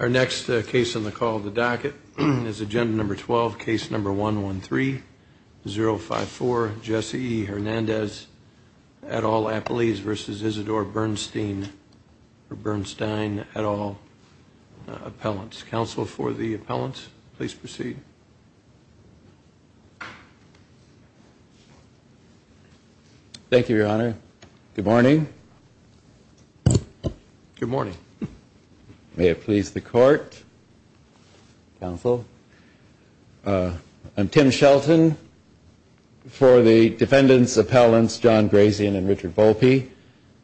Our next case on the call of the docket is agenda number 12, case number 113054, Jesse Hernandez et al. Appellees versus Isidore Bernstein et al. Appellants. Counsel for the appellants, please proceed. Thank you, Your Honor. Good morning. Good morning. May it please the court, counsel. I'm Tim Shelton for the defendants appellants John Grazian and Richard Volpe.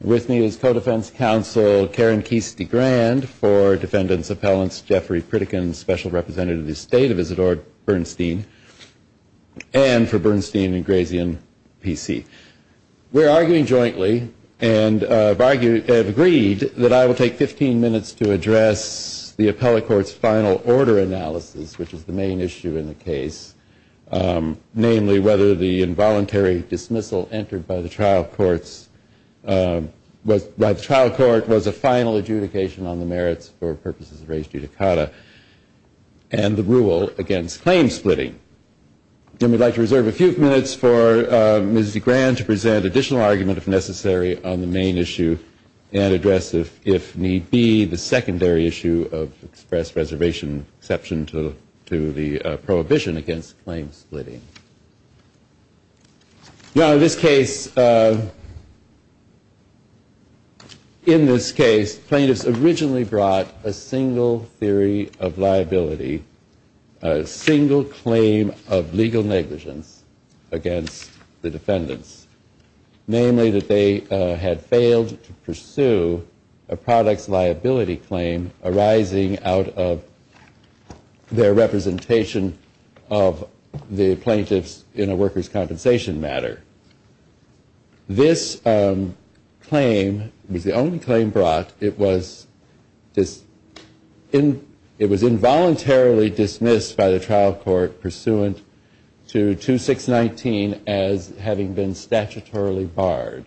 With me is co-defense counsel Karen Kesey-Grand for defendants appellants Jeffrey Pritikin, special representative of the state of Isidore Bernstein, and for Bernstein and Grazian PC. We're arguing jointly and have agreed that I will take 15 minutes to address the appellate court's final order analysis, which is the main issue in the case, namely whether the involuntary dismissal entered by the trial court was a final adjudication on the merits for purposes of res judicata and the rule against claim splitting. And we'd like to reserve a few minutes for Ms. DeGran to present additional argument if necessary on the main issue and address if need be the secondary issue of express reservation exception to the prohibition against claim splitting. Your Honor, in this case plaintiffs originally brought a single theory of liability, a single claim of legal negligence against the defendants, namely that they had failed to pursue a product's liability claim arising out of their representation of the plaintiffs in a worker's compensation matter. This claim was the only claim brought. It was involuntarily dismissed by the trial court pursuant to 2619 as having been statutorily barred.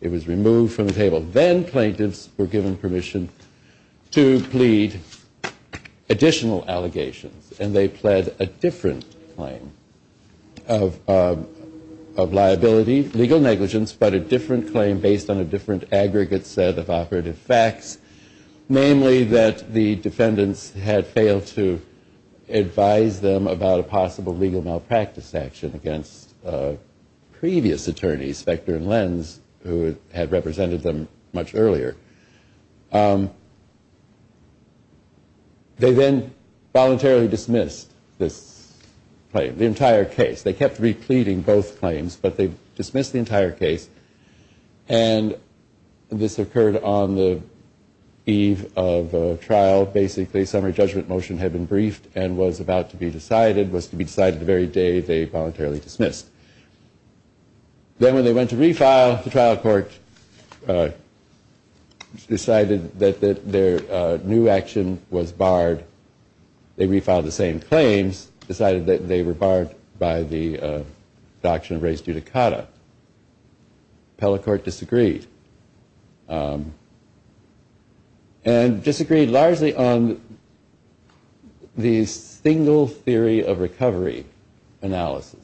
It was removed from the table. Then plaintiffs were given permission to plead additional allegations and they pled a different claim of liability, legal negligence, but a different claim based on a different aggregate set of operative facts, namely that the defendants had failed to advise them about a possible legal malpractice action against previous attorneys, Spector and Lenz, who had represented them much earlier. They then voluntarily dismissed this claim, the entire case. They kept repleting both claims, but they dismissed the entire case and this occurred on the eve of a trial. Basically, summary judgment motion had been briefed and was about to be decided, was to be decided the very day they voluntarily dismissed. Then when they went to refile, the trial court decided that their new action was barred. They refiled the same claims, decided that they were barred by the doctrine of res judicata. Pellicourt disagreed. And disagreed largely on the single theory of recovery analysis.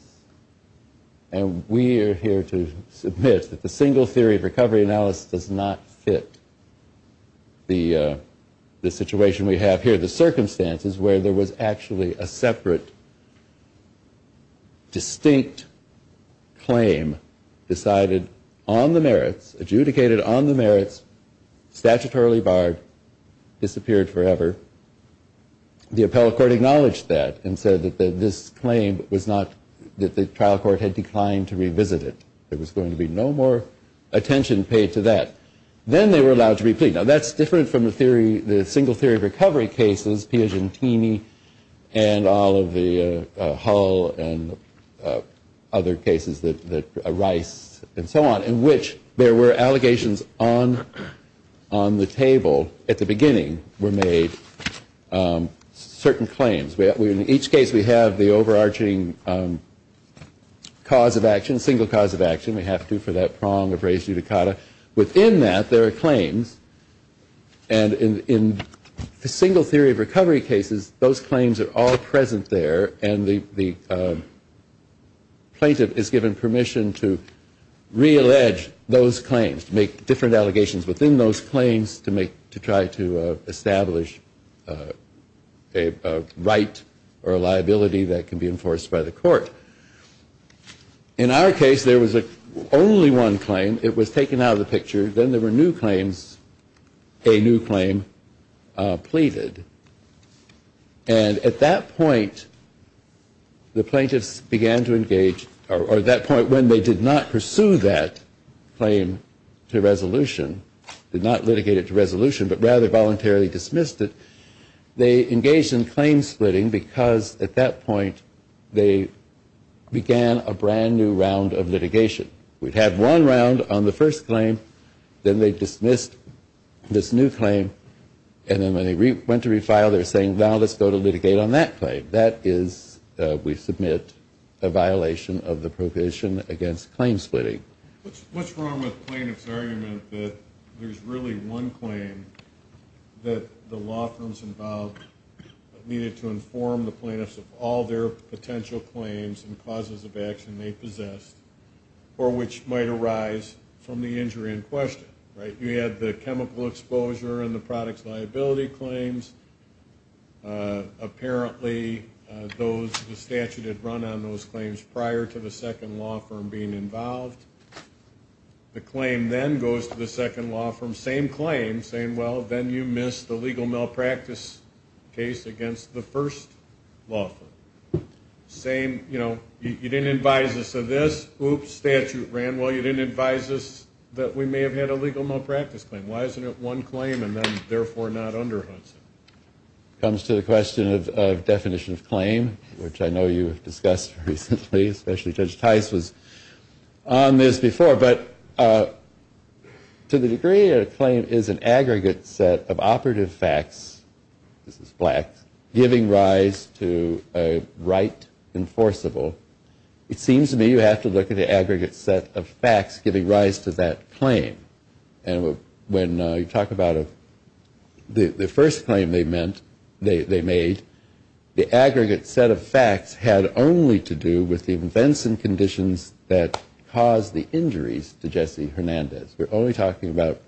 And we are here to submit that the single theory of recovery analysis does not fit the situation we have here, the circumstances where there was actually a separate, distinct claim decided on the merits, adjudicated on the merits, statutorily barred, disappeared forever. The appellate court acknowledged that and said that this claim was not, that the trial court had declined to revisit it. There was going to be no more attention paid to that. Then they were allowed to replete. Now that's different from the single theory of recovery cases, Piagentini and all of the Hull and other cases, Rice and so on, in which there were allegations on the table at the beginning were made, certain claims. In each case we have the overarching cause of action, single cause of action. We have to for that prong of res judicata. Within that there are claims. And in the single theory of recovery cases, those claims are all present there. And the plaintiff is given permission to reallege those claims, to make different allegations within those claims to try to establish a right or a liability that can be enforced by the court. In our case, there was only one claim. It was taken out of the picture. Then there were new claims, a new claim pleaded. And at that point, the plaintiffs began to engage, or at that point when they did not pursue that claim to resolution, did not litigate it to resolution, but rather voluntarily dismissed it, they engaged in claim splitting because at that point they began a brand new round of litigation. We'd have one round on the first claim. Then they dismissed this new claim. And then when they went to refile, they're saying, well, let's go to litigate on that claim. That is, we submit a violation of the provision against claim splitting. What's wrong with the plaintiff's argument that there's really one claim that the law firms involved needed to inform the plaintiffs of all their potential claims and causes of action they possessed, or which might arise from the injury in question, right? You had the chemical exposure and the products liability claims. Apparently, the statute had run on those claims prior to the second law firm being involved. The claim then goes to the second law firm, same claim, saying, well, then you missed the legal malpractice case against the first law firm. You didn't advise us of this. Oops, statute ran. Well, you didn't advise us that we may have had a legal malpractice claim. Why isn't it one claim and then therefore not under Hudson? Comes to the question of definition of claim, which I know you've discussed recently, especially Judge Tice was on this before. But to the degree that a claim is an aggregate set of operative facts, this is black, giving rise to a right enforceable, it seems to me you have to look at the aggregate set of facts giving rise to that claim. And when you talk about the first claim they made, the aggregate set of facts had only to do with the events and conditions that caused the injuries to Jesse Hernandez. We're only talking about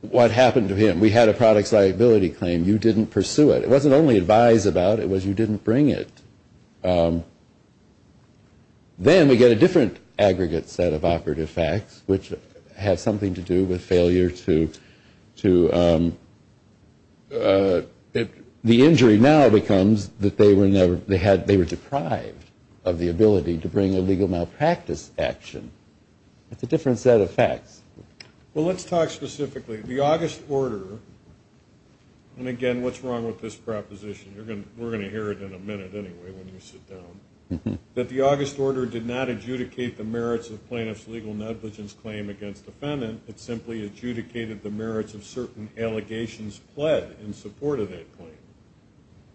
what happened to him. We had a products liability claim. You didn't pursue it. It wasn't only that you didn't advise about it, it was you didn't bring it. Then we get a different aggregate set of operative facts, which have something to do with failure to, the injury now becomes that they were deprived of the ability to bring a legal malpractice action. It's a different set of facts. Well, let's talk specifically. The August order, and again, what's wrong with this proposition? We're going to hear it in a minute anyway when you sit down. That the August order did not adjudicate the merits of plaintiff's legal negligence claim against defendant, it simply adjudicated the merits of certain allegations pled in support of that claim.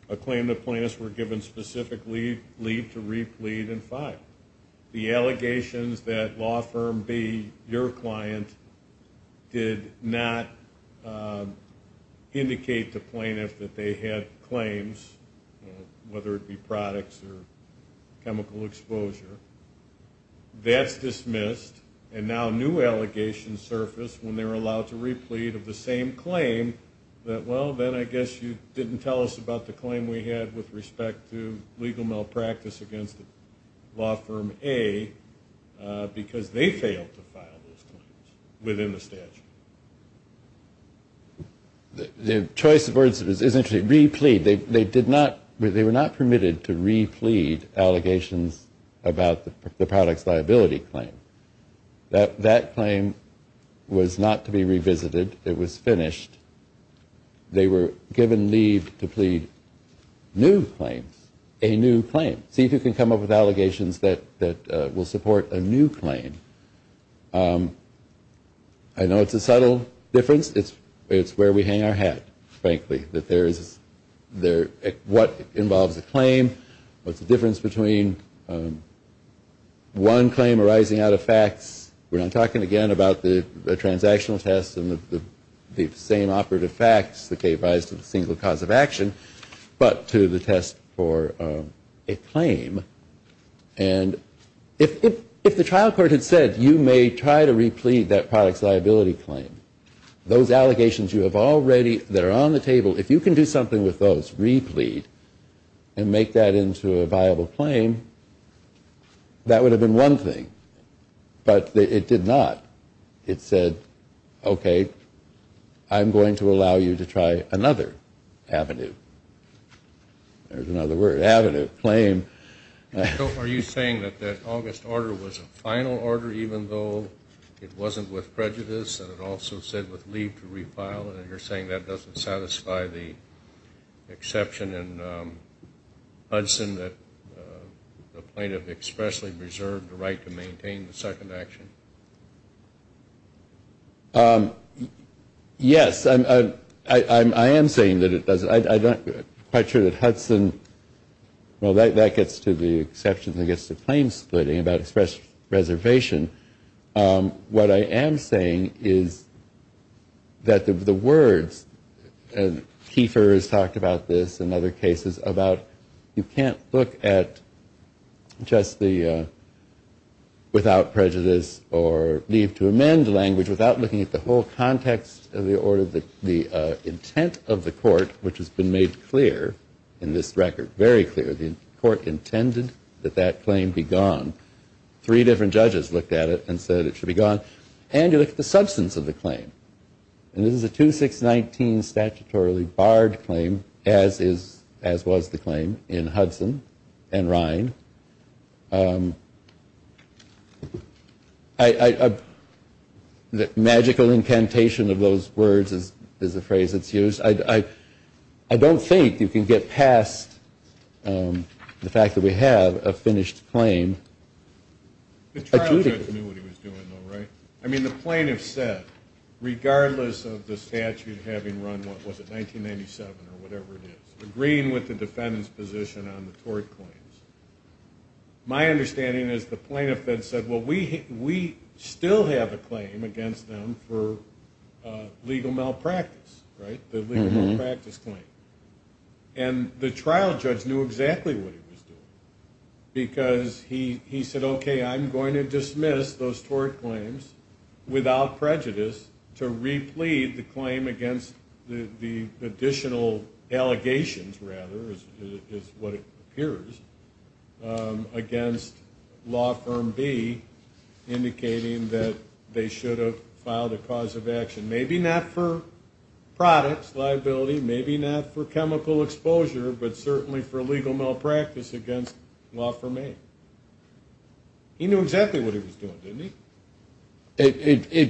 A claim that plaintiffs were given specific leave to re-plead in five. The allegations that law firm B, your client, did not indicate to plaintiff that they had claims, whether it be products or chemical exposure, that's dismissed. And now new allegations surface when they're allowed to re-plead of the same claim that, well, then I guess you didn't tell us about the claim we had with respect to legal malpractice against law firm A because they failed to file those claims within the statute. The choice of words is actually re-plead. They did not, they were not permitted to re-plead allegations about the product's liability claim. That claim was not to be revisited. It was finished. They were given leave to plead new claims, a new claim. See if you can come up with allegations that will support a new claim. I know it's a subtle difference. It's where we hang our hat, frankly, that there is, what involves a claim, what's the difference between one claim arising out of facts, we're not talking again about the transactional test and the same operative facts that gave rise to the single cause of action, but to the test for a claim. And if the trial court had said you may try to re-plead that product's liability claim, those allegations you have already, that are on the table, if you can do something with those, re-plead, and make that into a viable claim, that would have been one thing. But it did not. It said, okay, I'm going to allow you to try another avenue. There's another word, avenue, claim. So are you saying that that August order was a final order even though it wasn't with prejudice and it also said with leave to refile, and you're saying that doesn't satisfy the exception in Hudson that the plaintiff expressly reserved the right to maintain the second action? Yes, I am saying that it doesn't. I'm not quite sure that Hudson, well, that gets to the exception that gets to claim splitting about express reservation. What I am saying is that the words, and Kiefer has talked about this in other cases, about you can't look at just the without prejudice or leave to amend language without looking at the whole context of the order, the intent of the court, which has been made clear in this record, very clear. The court intended that that claim be gone. Three different judges looked at it and said it should be gone. And you look at the substance of the claim. And this is a 2619 statutorily barred claim, as was the claim in Hudson and Rhine. The magical incantation of those words is the phrase that's used. I don't think you can get past the fact that we have a finished claim adjudicated. The trial judge knew what he was doing though, right? I mean, the plaintiff said, regardless of the statute having run, what was it, 1997 or whatever it is, agreeing with the defendant's position on the tort claims. My understanding is the plaintiff then said, well, we still have a claim against them for legal malpractice, right? The legal malpractice claim. And the trial judge knew exactly what he was doing because he said, okay, I'm going to dismiss those tort claims without prejudice to replete the claim against the additional allegations rather, is what it appears, against law firm B, indicating that they should have filed a cause of action. Maybe not for products, liability, maybe not for chemical exposure, but certainly for legal malpractice against law firm A. He knew exactly what he was doing didn't he?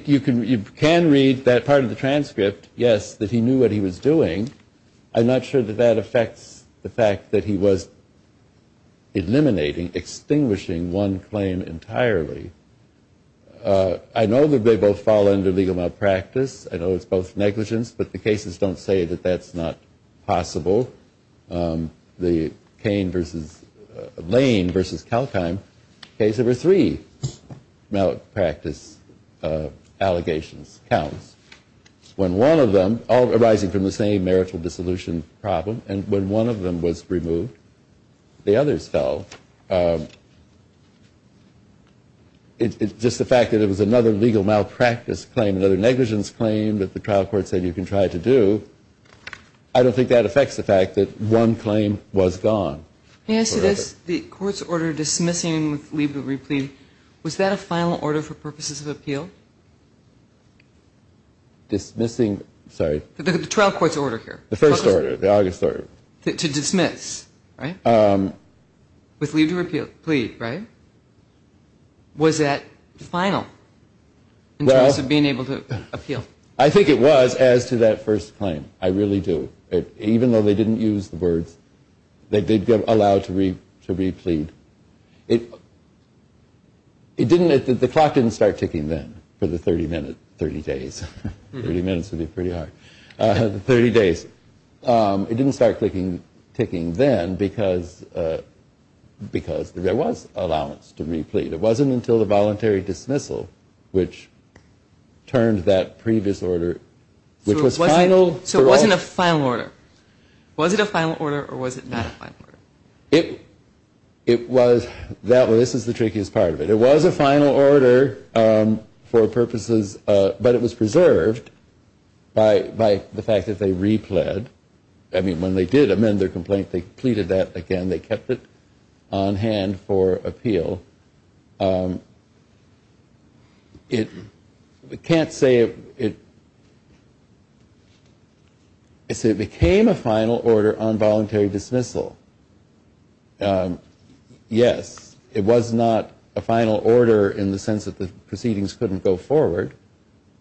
You can read that part of the transcript, yes, that he knew what he was doing. I'm not sure that that affects the fact that he was eliminating, extinguishing one claim entirely. I know that they both fall under legal malpractice. I know it's both negligence, but the cases don't say that that's not possible. The Cain versus, Lane versus Kalkheim case number three. Legal malpractice allegations counts. When one of them, all arising from the same marital dissolution problem, and when one of them was removed, the others fell. It's just the fact that it was another legal malpractice claim, another negligence claim that the trial court said you can try to do. I don't think that affects the fact that one claim was gone. Yes, it is. The court's order dismissing with leave to replead, was that a final order for purposes of appeal? Dismissing, sorry. The trial court's order here. The first order, the August order. To dismiss, right? With leave to replead, right? Was that final in terms of being able to appeal? I think it was as to that first claim. I really do. Even though they didn't use the words, they did allow to replead. It didn't, the clock didn't start ticking then, for the 30 minutes, 30 days. 30 minutes would be pretty hard. 30 days. It didn't start ticking then because there was allowance to replead. It wasn't until the voluntary dismissal, which turned that previous order, which was final for all. Was it a final order or was it not a final order? It was, that was, this is the trickiest part of it. It was a final order for purposes, but it was preserved by the fact that they replead. I mean, when they did amend their complaint, they pleaded that again. They kept it on hand for appeal. It can't say, it became a final order on voluntary dismissal. Yes, it was not a final order in the sense that the proceedings couldn't go forward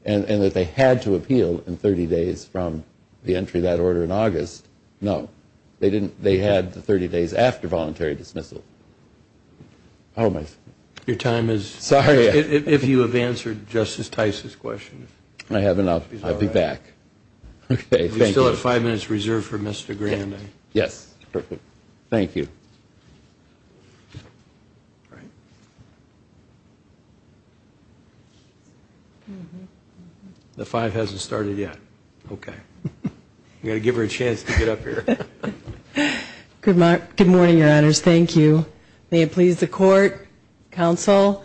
and that they had to appeal in 30 days from the entry of that order in August. No, they didn't. They had the 30 days after voluntary dismissal. Your time is, if you have answered Justice Tice's question. I have enough. I'll be back. Okay, thank you. We still have five minutes reserved for Mr. Grand. Yes, perfect. Thank you. The five hasn't started yet. Okay. I'm going to give her a chance to get up here. Good morning, your honors. Thank you. May it please the court, counsel.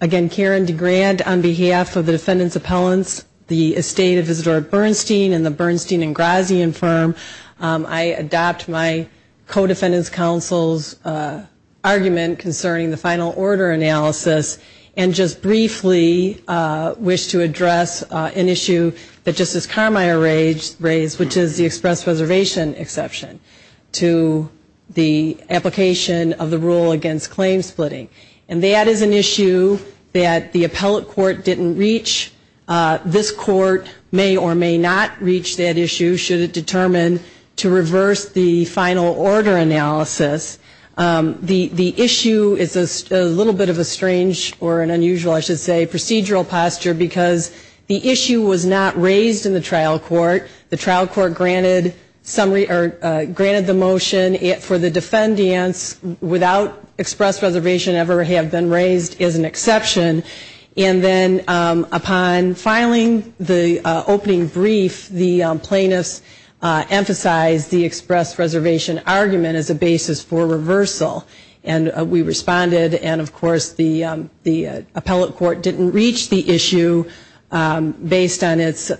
Again, Karen DeGrand on behalf of the defendant's appellants, the estate of Isadora Bernstein and the Bernstein and Grazian firm. I adopt my co-defendant's counsel's argument concerning the final order analysis and just briefly wish to address an issue that Justice Carmier raised, which is the express reservation exception to the application of the rule against claim splitting. And that is an issue that the appellate court didn't reach. This court may or may not reach that issue should it determine to reverse the final order analysis. The issue is a little bit of a strange or an unusual, I should say, procedural posture because the issue was not raised in the trial court. The trial court granted the motion for the defendants without express reservation ever have been raised as an exception. And then upon filing the opening brief, the plaintiffs emphasized the express reservation argument as a basis for reversal. And we responded and of course the appellate court didn't reach the issue based on its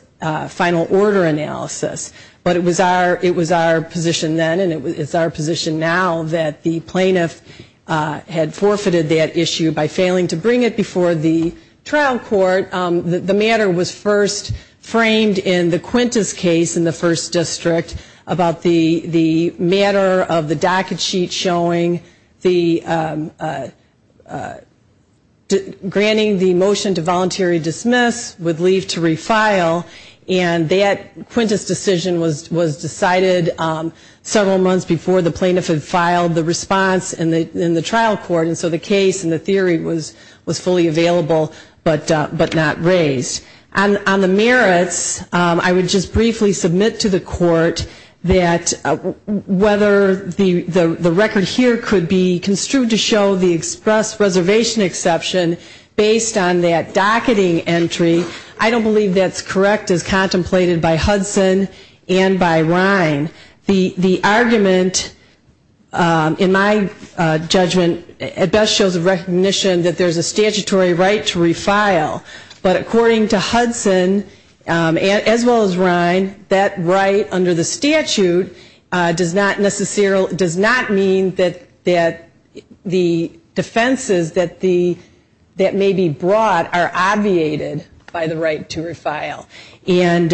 final order analysis. But it was our position then and it's our position now that the plaintiff had forfeited that issue by failing to bring it before the trial court. The matter was first framed in the Quintus case in the first district about the matter of the docket sheet showing the granting the motion to voluntary dismiss with leave to refile. And that Quintus decision was decided several months before the plaintiff had filed the response in the trial court. And so the case and the theory was fully available, but not raised. On the merits, I would just briefly submit to the court that whether the record here could be construed to show the express reservation exception based on that docketing entry, I don't believe that's correct as contemplated by Hudson and by Rhine. The argument that in my judgment at best shows a recognition that there's a statutory right to refile. But according to Hudson, as well as Rhine, that right under the statute does not necessarily does not mean that the defenses that may be brought are obviated by the right to refile. And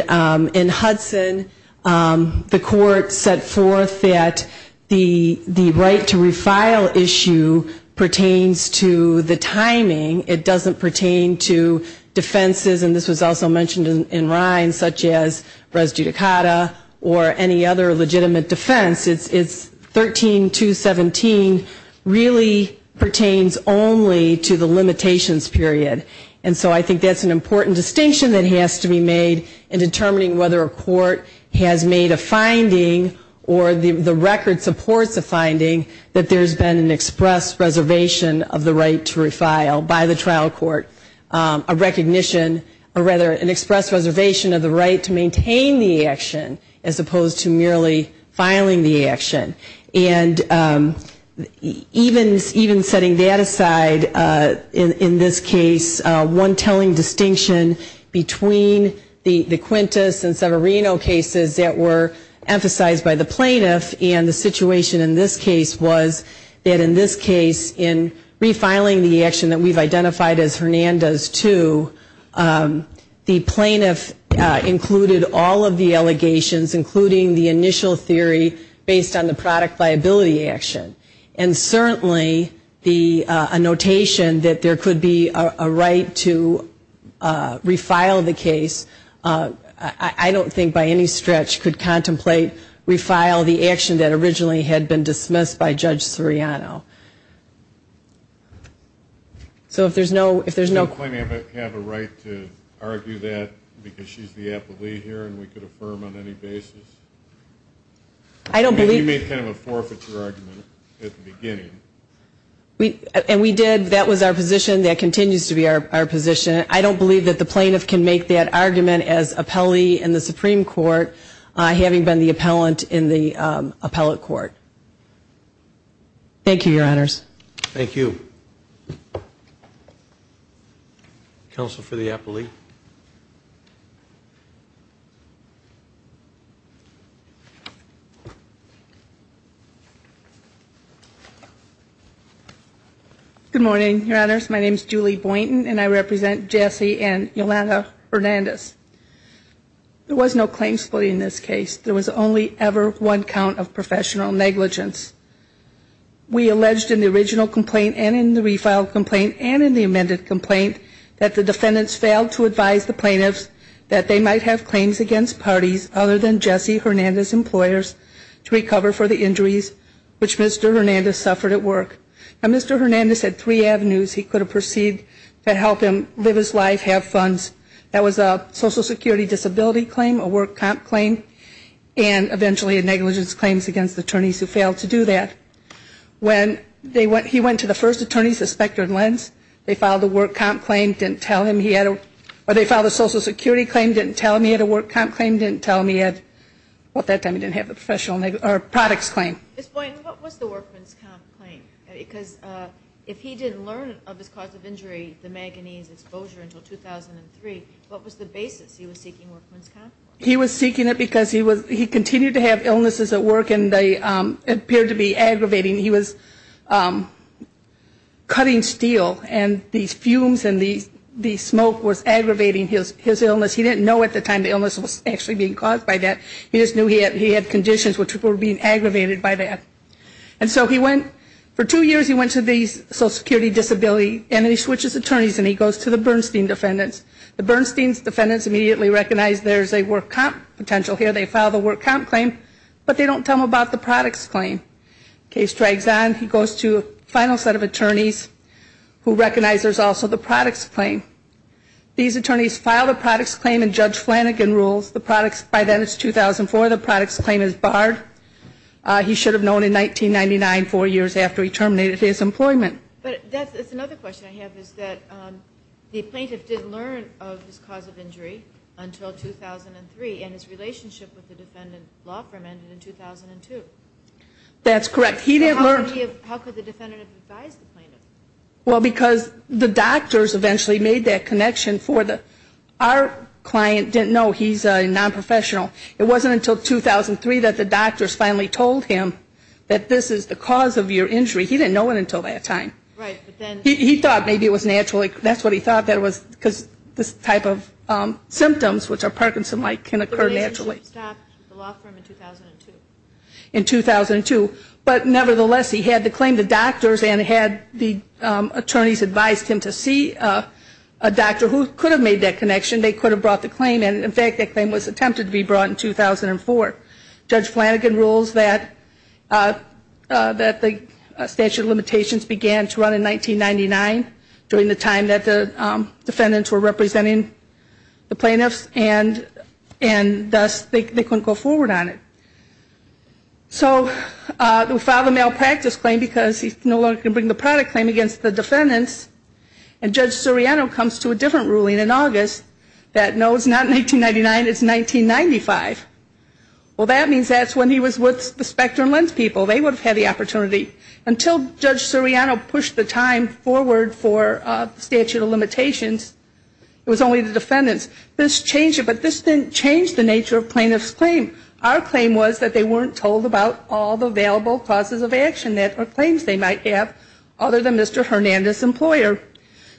in Hudson, the court set forth that the right to refile issue pertains to the timing. It doesn't pertain to defenses, and this was also mentioned in Rhine, such as res judicata or any other legitimate defense. It's 13217 really pertains only to the limitations period. And so I think that's an important distinction that has to be made in determining whether a court has made a finding or the record supports a finding that there's been an express reservation of the right to refile by the trial court, a recognition or rather an express reservation of the right to maintain the action as opposed to merely filing the action. And even setting that aside, in this case, one telling distinction between the Quintus and Severino cases that were emphasized by the plaintiff and the situation in this case was that in this case, in refiling the action that we've identified as Hernandez 2, the product liability action, and certainly the notation that there could be a right to refile the case, I don't think by any stretch could contemplate refile the action that originally had been dismissed by Judge Seriano. So if there's no question. Do the plaintiff have a right to argue that because she's the appellee here and we could affirm on any basis? You made kind of a forfeiture argument at the beginning. And we did. That was our position. That continues to be our position. I don't believe that the plaintiff can make that argument as appellee in the Supreme Court, having been the appellant in the appellate court. Thank you, Your Honors. Thank you. Counsel for the appellee. Good morning, Your Honors. My name is Julie Boynton and I represent Jesse and Yolanda Hernandez. There was no claim split in this case. There was only ever one count of professional negligence. We alleged in the original complaint and in the refiled complaint and in the amended complaint that the defendants failed to advise the plaintiffs that they might have claims against parties other than Jesse Hernandez's employers to recover for the injuries which Mr. Hernandez suffered at work. Now Mr. Hernandez had three avenues he could have perceived that helped him live his life, have funds. That was a Social Security disability claim, a work comp claim, and eventually a claim against attorneys who failed to do that. When he went to the first attorneys, the Specter and Lenz, they filed a work comp claim, didn't tell him he had a, or they filed a Social Security claim, didn't tell him he had a work comp claim, didn't tell him he had, well at that time he didn't have a professional, or products claim. Ms. Boynton, what was the workman's comp claim? Because if he didn't learn of his cause of injury, the manganese exposure until 2003, what was the basis he was seeking workman's comp for? He was seeking it because he continued to have illnesses at work and they appeared to be aggravating. He was cutting steel and these fumes and the smoke was aggravating his illness. He didn't know at the time the illness was actually being caused by that. He just knew he had conditions which were being aggravated by that. And so he went, for two years he went to these Social Security disability, and then he switches attorneys and he goes to the Bernstein defendants. The Bernstein defendants immediately recognize there's a work comp potential here. They file the work comp claim, but they don't tell him about the products claim. Case drags on. He goes to a final set of attorneys who recognize there's also the products claim. These attorneys file the products claim and Judge Flanagan rules the products, by then it's 2004, the products claim is barred. He should have known in 1999, four years after he terminated his employment. But that's another question I have is that the plaintiff did learn of his cause of injury until 2003, and his relationship with the defendant law firm ended in 2002. That's correct. He didn't learn. How could the defendant have advised the plaintiff? Well, because the doctors eventually made that connection for the, our client didn't know he's a nonprofessional. It wasn't until 2003 that the doctors finally told him that this is the cause of your injury. He didn't know it until that time. Right, but then. He thought maybe it was naturally, that's what he thought that it was because this type of symptoms, which are Parkinson-like, can occur naturally. The relationship stopped with the law firm in 2002. In 2002. But nevertheless, he had the claim to doctors and had the attorneys advised him to see a doctor who could have made that connection. They could have brought the claim, and in fact that claim was attempted to be brought in 2004. Judge Flanagan rules that the statute of 1999, during the time that the defendants were representing the plaintiffs, and thus they couldn't go forward on it. So they filed a malpractice claim because he no longer could bring the product claim against the defendants, and Judge Soriano comes to a different ruling in August that no, it's not 1999, it's 1995. Well, that means that's when he was with the Specter and Lenz people. They would have had the opportunity. Until Judge Soriano pushed the time forward for the statute of limitations, it was only the defendants. This changed it, but this didn't change the nature of plaintiff's claim. Our claim was that they weren't told about all the available causes of action or claims they might have other than Mr. Hernandez's employer.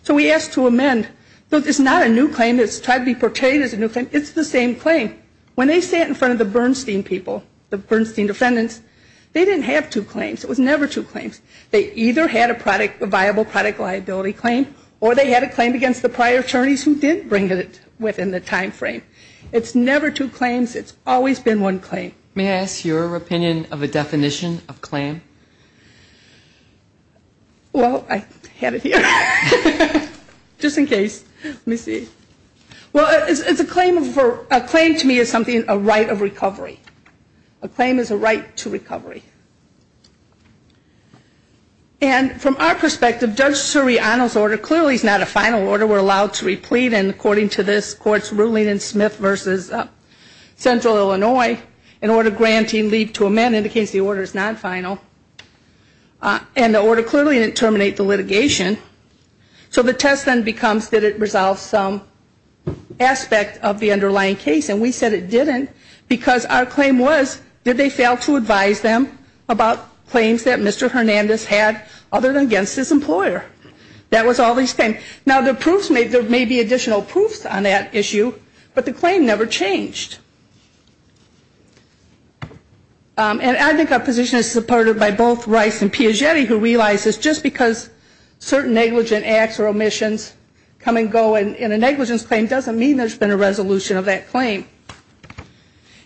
So we asked to amend. It's not a new claim, it's tried to be portrayed as a new claim, it's the same claim. When they sat in front of the Bernstein people, the Bernstein defendants, they didn't have two claims. It was never two claims. They either had a product, a viable product liability claim, or they had a claim against the prior attorneys who did bring it within the time frame. It's never two claims. It's always been one claim. May I ask your opinion of a definition of claim? Well, I had it here. Just in case. Let me see. Well, it's a claim to me of something, a right of recovery. A claim is a right to recovery. And from our perspective, Judge Suriano's order clearly is not a final order. We're allowed to replete, and according to this court's ruling in Smith v. Central Illinois, an order granting leave to amend indicates the order is not final. And the order clearly didn't terminate the litigation. So the test then becomes did it resolve some aspect of the underlying case, and we said it didn't because our claim was did they fail to advise them about claims that Mr. Hernandez had other than against his employer? That was all they said. Now, there may be additional proofs on that issue, but the claim never changed. And I think our position is supported by both Rice and Piagetti, who realize that just because certain negligent acts or omissions come and go in a negligence claim doesn't mean there's been a resolution of that claim.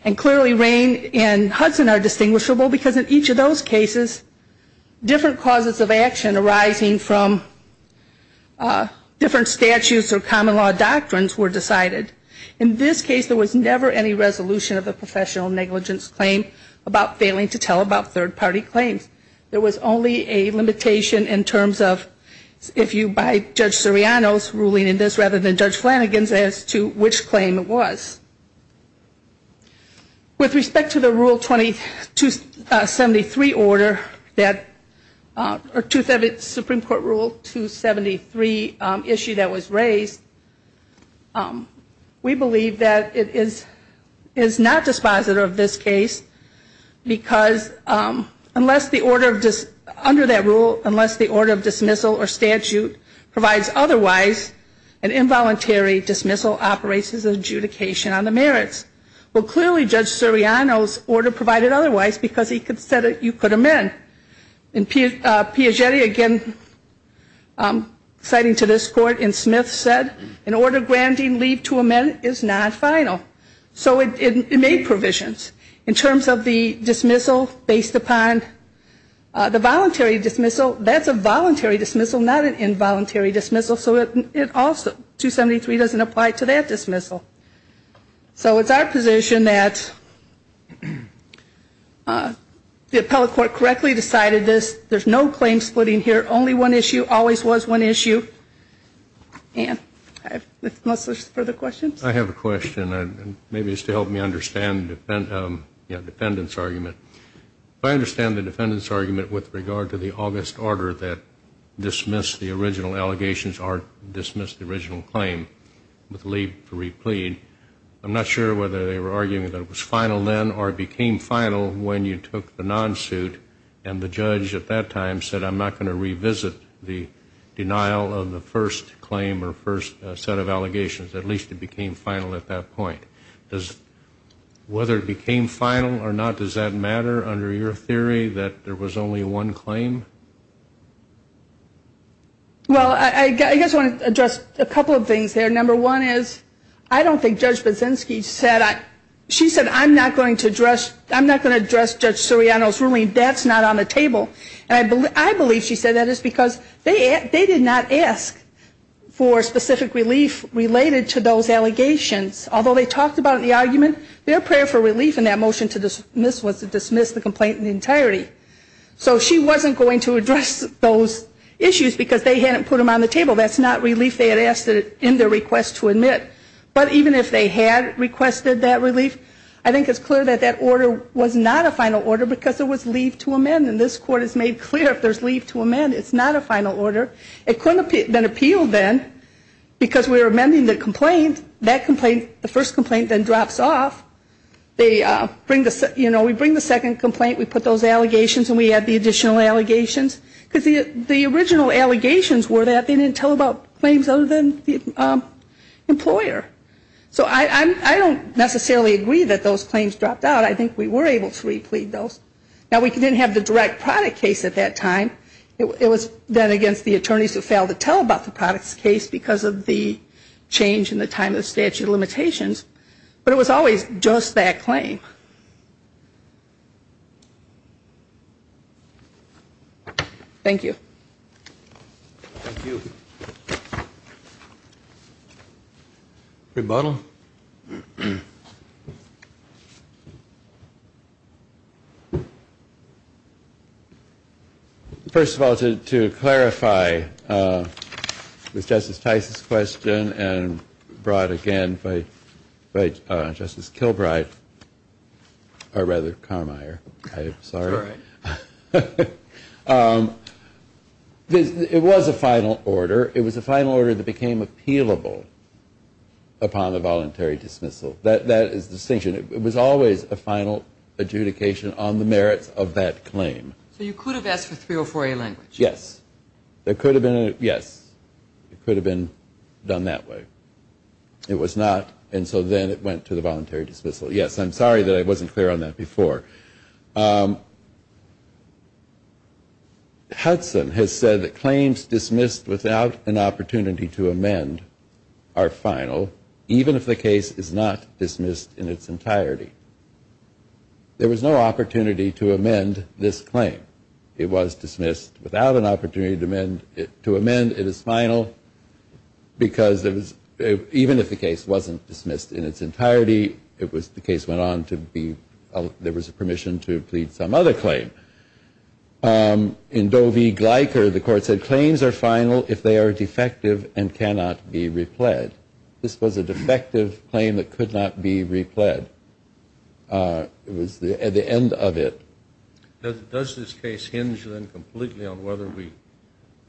And clearly Rainn and Hudson are distinguishable because in each of those cases, different causes of action arising from different statutes or common law doctrines were decided. In this case, there was never any resolution of a professional negligence claim about failing to tell about third-party claims. There was only a limitation in terms of if you by Judge Soriano's ruling in this rather than Judge Flanagan's as to which claim it was. With respect to the Rule 273 issue that was raised, we believe that it is not dispositive of this case because under that rule, unless the order of dismissal or statute provides otherwise, an involuntary dismissal operates as adjudication on the merits. Well, clearly Judge Soriano's order provided otherwise because he said you could amend. And Piagetti, again, citing to this court in Smith said, an order granting leave to amend is not final. So it made provisions. In terms of the dismissal based upon the voluntary dismissal, that's a voluntary dismissal, but it's not an involuntary dismissal. So it also, 273 doesn't apply to that dismissal. So it's our position that the appellate court correctly decided this. There's no claim splitting here. Only one issue. Always was one issue. Ann, unless there's further questions. I have a question. Maybe it's to help me understand the defendant's argument. If I understand the defendant's argument with regard to the August order that dismissed the original allegations or dismissed the original claim with leave to replead, I'm not sure whether they were arguing that it was final then or it became final when you took the non-suit and the judge at that time said, I'm not going to revisit the denial of the first claim or first set of allegations. At least it became final at that point. Whether it became final or not, does that matter under your theory that there was only one claim? Well, I guess I want to address a couple of things there. Number one is I don't think Judge Baczynski said, she said, I'm not going to address Judge Soriano's ruling. That's not on the table. And I believe she said that is because they did not ask for specific relief related to those allegations. Although they talked about it in the argument, their prayer for relief in that motion to dismiss was to dismiss the complaint in entirety. So she wasn't going to address those issues because they hadn't put them on the table. That's not relief they had asked in their request to admit. But even if they had requested that relief, I think it's clear that that order was not a final order because it was leave to amend. And this Court has made clear if there's leave to amend, it's not a final order. It couldn't have been appealed then because we were amending the complaint. That complaint, the first complaint then drops off. We bring the second complaint. We put those allegations and we add the additional allegations. Because the original allegations were that they didn't tell about claims other than the employer. So I don't necessarily agree that those claims dropped out. I think we were able to replead those. Now, we didn't have the direct product case at that time. It was then against the attorneys who failed to tell about the products case because of the change in the time of statute of limitations. But it was always just that claim. Thank you. Thank you. Rebuttal. First of all, to clarify with Justice Tice's question and brought again by Justice Kilbride, or rather Carmeier. I'm sorry. It was a final order. However, it was a final order that became appealable upon the voluntary dismissal. That is the distinction. It was always a final adjudication on the merits of that claim. So you could have asked for 304A language? Yes. There could have been a, yes. It could have been done that way. It was not. And so then it went to the voluntary dismissal. Yes. I'm sorry that I wasn't clear on that before. Hudson has said that claims dismissed without an opportunity to amend are final, even if the case is not dismissed in its entirety. There was no opportunity to amend this claim. It was dismissed without an opportunity to amend it. To amend it is final because even if the case wasn't dismissed in its entirety, it was the case went on to be, there was permission to plead some other claim. In Doe v. Gleicker, the court said, claims are final if they are defective and cannot be repled. This was a defective claim that could not be repled. It was the end of it. Does this case hinge, then, completely on whether we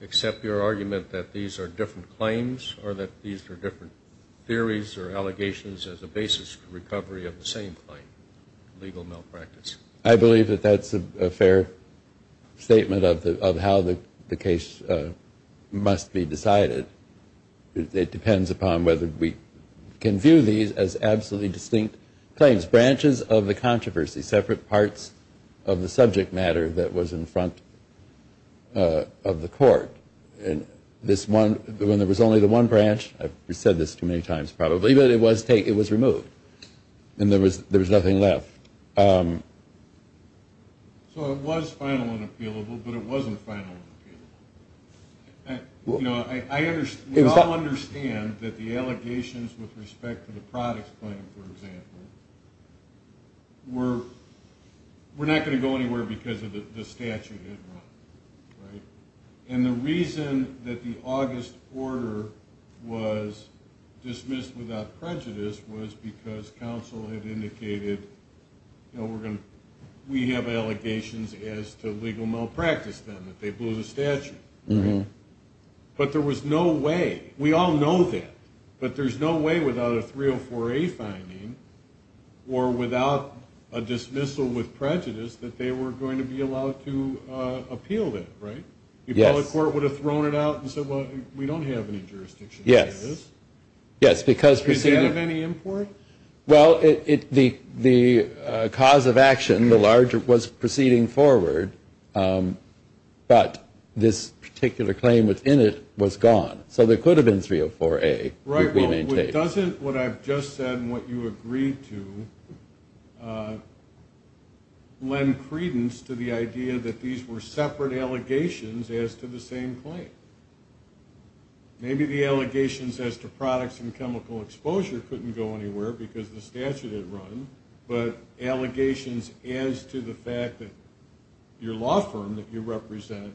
accept your argument that these are different claims or that these are different theories or allegations as a basis for recovery of the same claim, legal malpractice? I believe that that's a fair statement of how the case must be decided. It depends upon whether we can view these as absolutely distinct claims, branches of the controversy, separate parts of the subject matter that was in front of the court. When there was only the one branch, I've said this too many times probably, but it was removed and there was nothing left. So it was final and appealable, but it wasn't final and appealable. We all understand that the allegations with respect to the products claim, for example, were not going to go anywhere because of the statute. And the reason that the August order was dismissed without prejudice was because counsel had indicated we have allegations as to legal malpractice, that they blew the statute. But there was no way, we all know that, but there's no way without a 304A finding or without a dismissal with prejudice that they were going to be allowed to appeal it, right? Yes. The public court would have thrown it out and said, well, we don't have any jurisdiction. Yes. Is that of any import? Well, the cause of action, the larger, was proceeding forward, but this particular claim within it was gone. So there could have been 304A. What I've just said and what you agreed to lend credence to the idea that these were separate allegations as to the same claim. Maybe the allegations as to products and chemical exposure couldn't go anywhere because the statute had run, but allegations as to the fact that your law firm that you represent,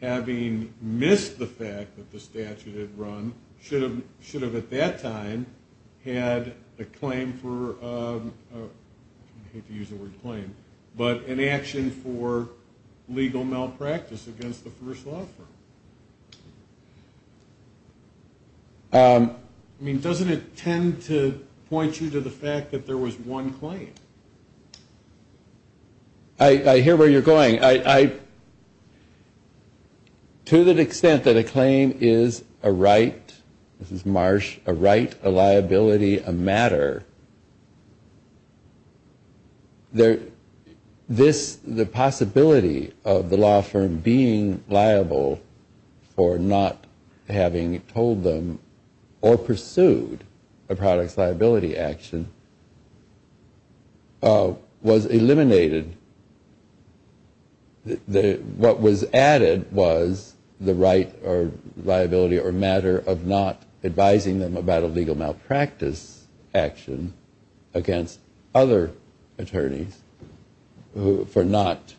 having missed the fact that the statute had run, should have at that time had a claim for an action for legal malpractice against the first law firm. I mean, doesn't it tend to point you to the fact that there was one claim? I hear where you're going. To the extent that a claim is a right, this is Marsh, a right, a liability, a matter, the possibility of the law firm being liable for not having told them or pursued a product's liability action was eliminated. What was added was the right or liability or matter of not advising them about a legal malpractice action against other attorneys for not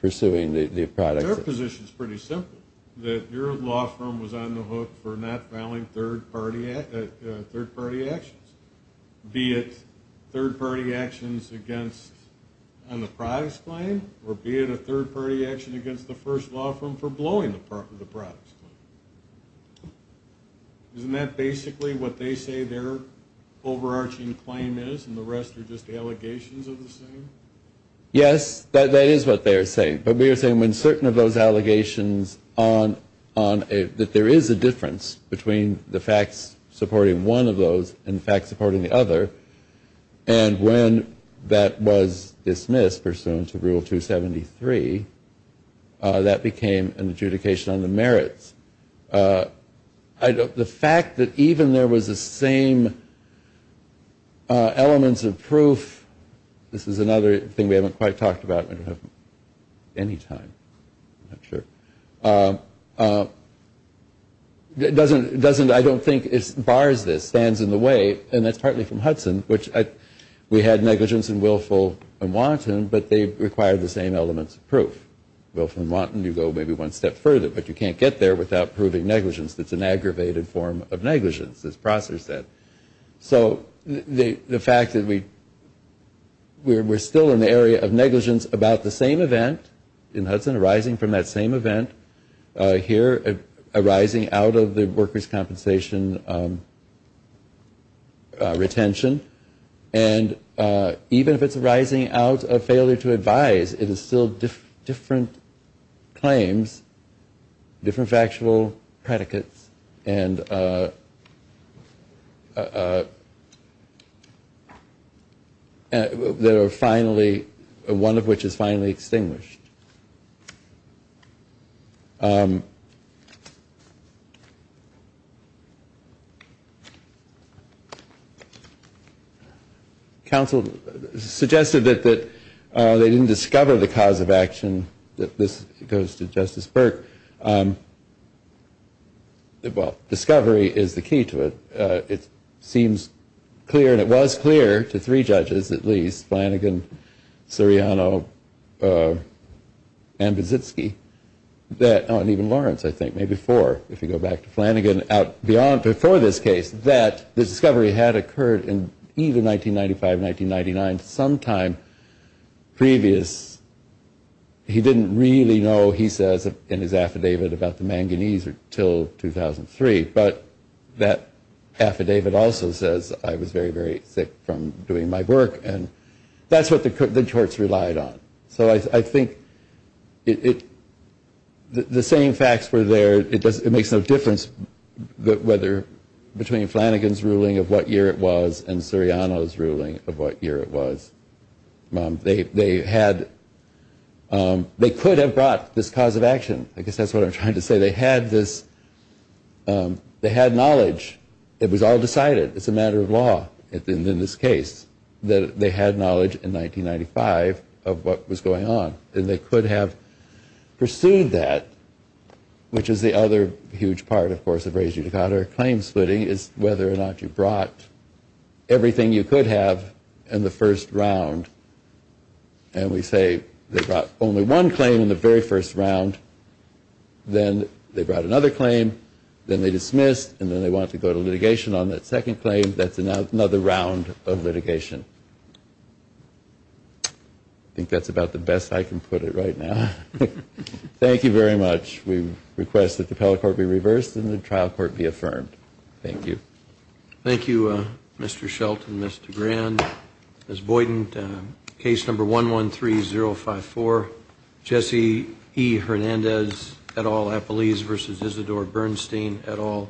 pursuing the product. Their position is pretty simple, that your law firm was on the hook for not filing third-party actions, be it third-party actions on the product's claim or be it a third-party action against the first law firm for blowing the product's claim. Isn't that basically what they say their overarching claim is and the rest are just allegations of the same? Yes, that is what they are saying. But we are saying when certain of those allegations that there is a difference between the facts supporting one of those and the facts supporting the other and when that was dismissed pursuant to Rule 273, that became an adjudication on the merits. The fact that even there was the same elements of proof, this is another thing we haven't quite talked about. I don't think it bars this, stands in the way and that is partly from Hudson. We had negligence and willful and wanton but they require the same elements of proof. Willful and wanton you go maybe one step further but you can't get there without proving negligence. It is an aggravated form of negligence as Prosser said. So the fact that we are still in the area of negligence about the same event in Hudson, arising from that same event here, arising out of the workers' compensation retention and even if it is arising out of failure to advise, it is still different claims, different factual predicates and there are finally, one of which is finally extinguished. Counsel suggested that they didn't discover the cause of action. This goes to Justice Burke. Well, discovery is the key to it. It seems clear and it was clear to three judges at least, Flanagan, Seriano, and Bizitsky, and even Lawrence I think, maybe four if you go back to Flanagan, out before this case that the discovery had occurred in either 1995 or 1999, sometime previous. He didn't really know he says in his affidavit about the manganese until 2003 but that affidavit also says I was very, very sick from doing my work and that's what the courts relied on. So I think the same facts were there. It makes no difference between Flanagan's ruling of what year it was and Seriano's ruling of what year it was. They could have brought this cause of action. I guess that's what I'm trying to say. They had knowledge. It was all decided. It's a matter of law in this case that they had knowledge in 1995 of what was going on and they could have pursued that which is the other huge part, of course, of raise you to counterclaim splitting is whether or not you brought everything you could have in the first round and we say they brought only one claim in the very first round, then they brought another claim, then they dismissed, and then they want to go to litigation on that second claim. That's another round of litigation. I think that's about the best I can put it right now. Thank you very much. We request that the appellate court be reversed and the trial court be affirmed. Thank you. Thank you, Mr. Shelton, Mr. Grand. Ms. Boyden, case number 113054, Jesse E. Hernandez et al. vs. Isidore Bernstein et al.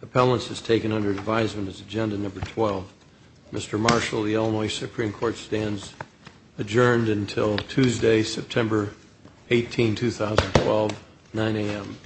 Appellants is taken under advisement as agenda number 12. Mr. Marshall, the Illinois Supreme Court stands adjourned until Tuesday, September 18, 2012, 9 a.m.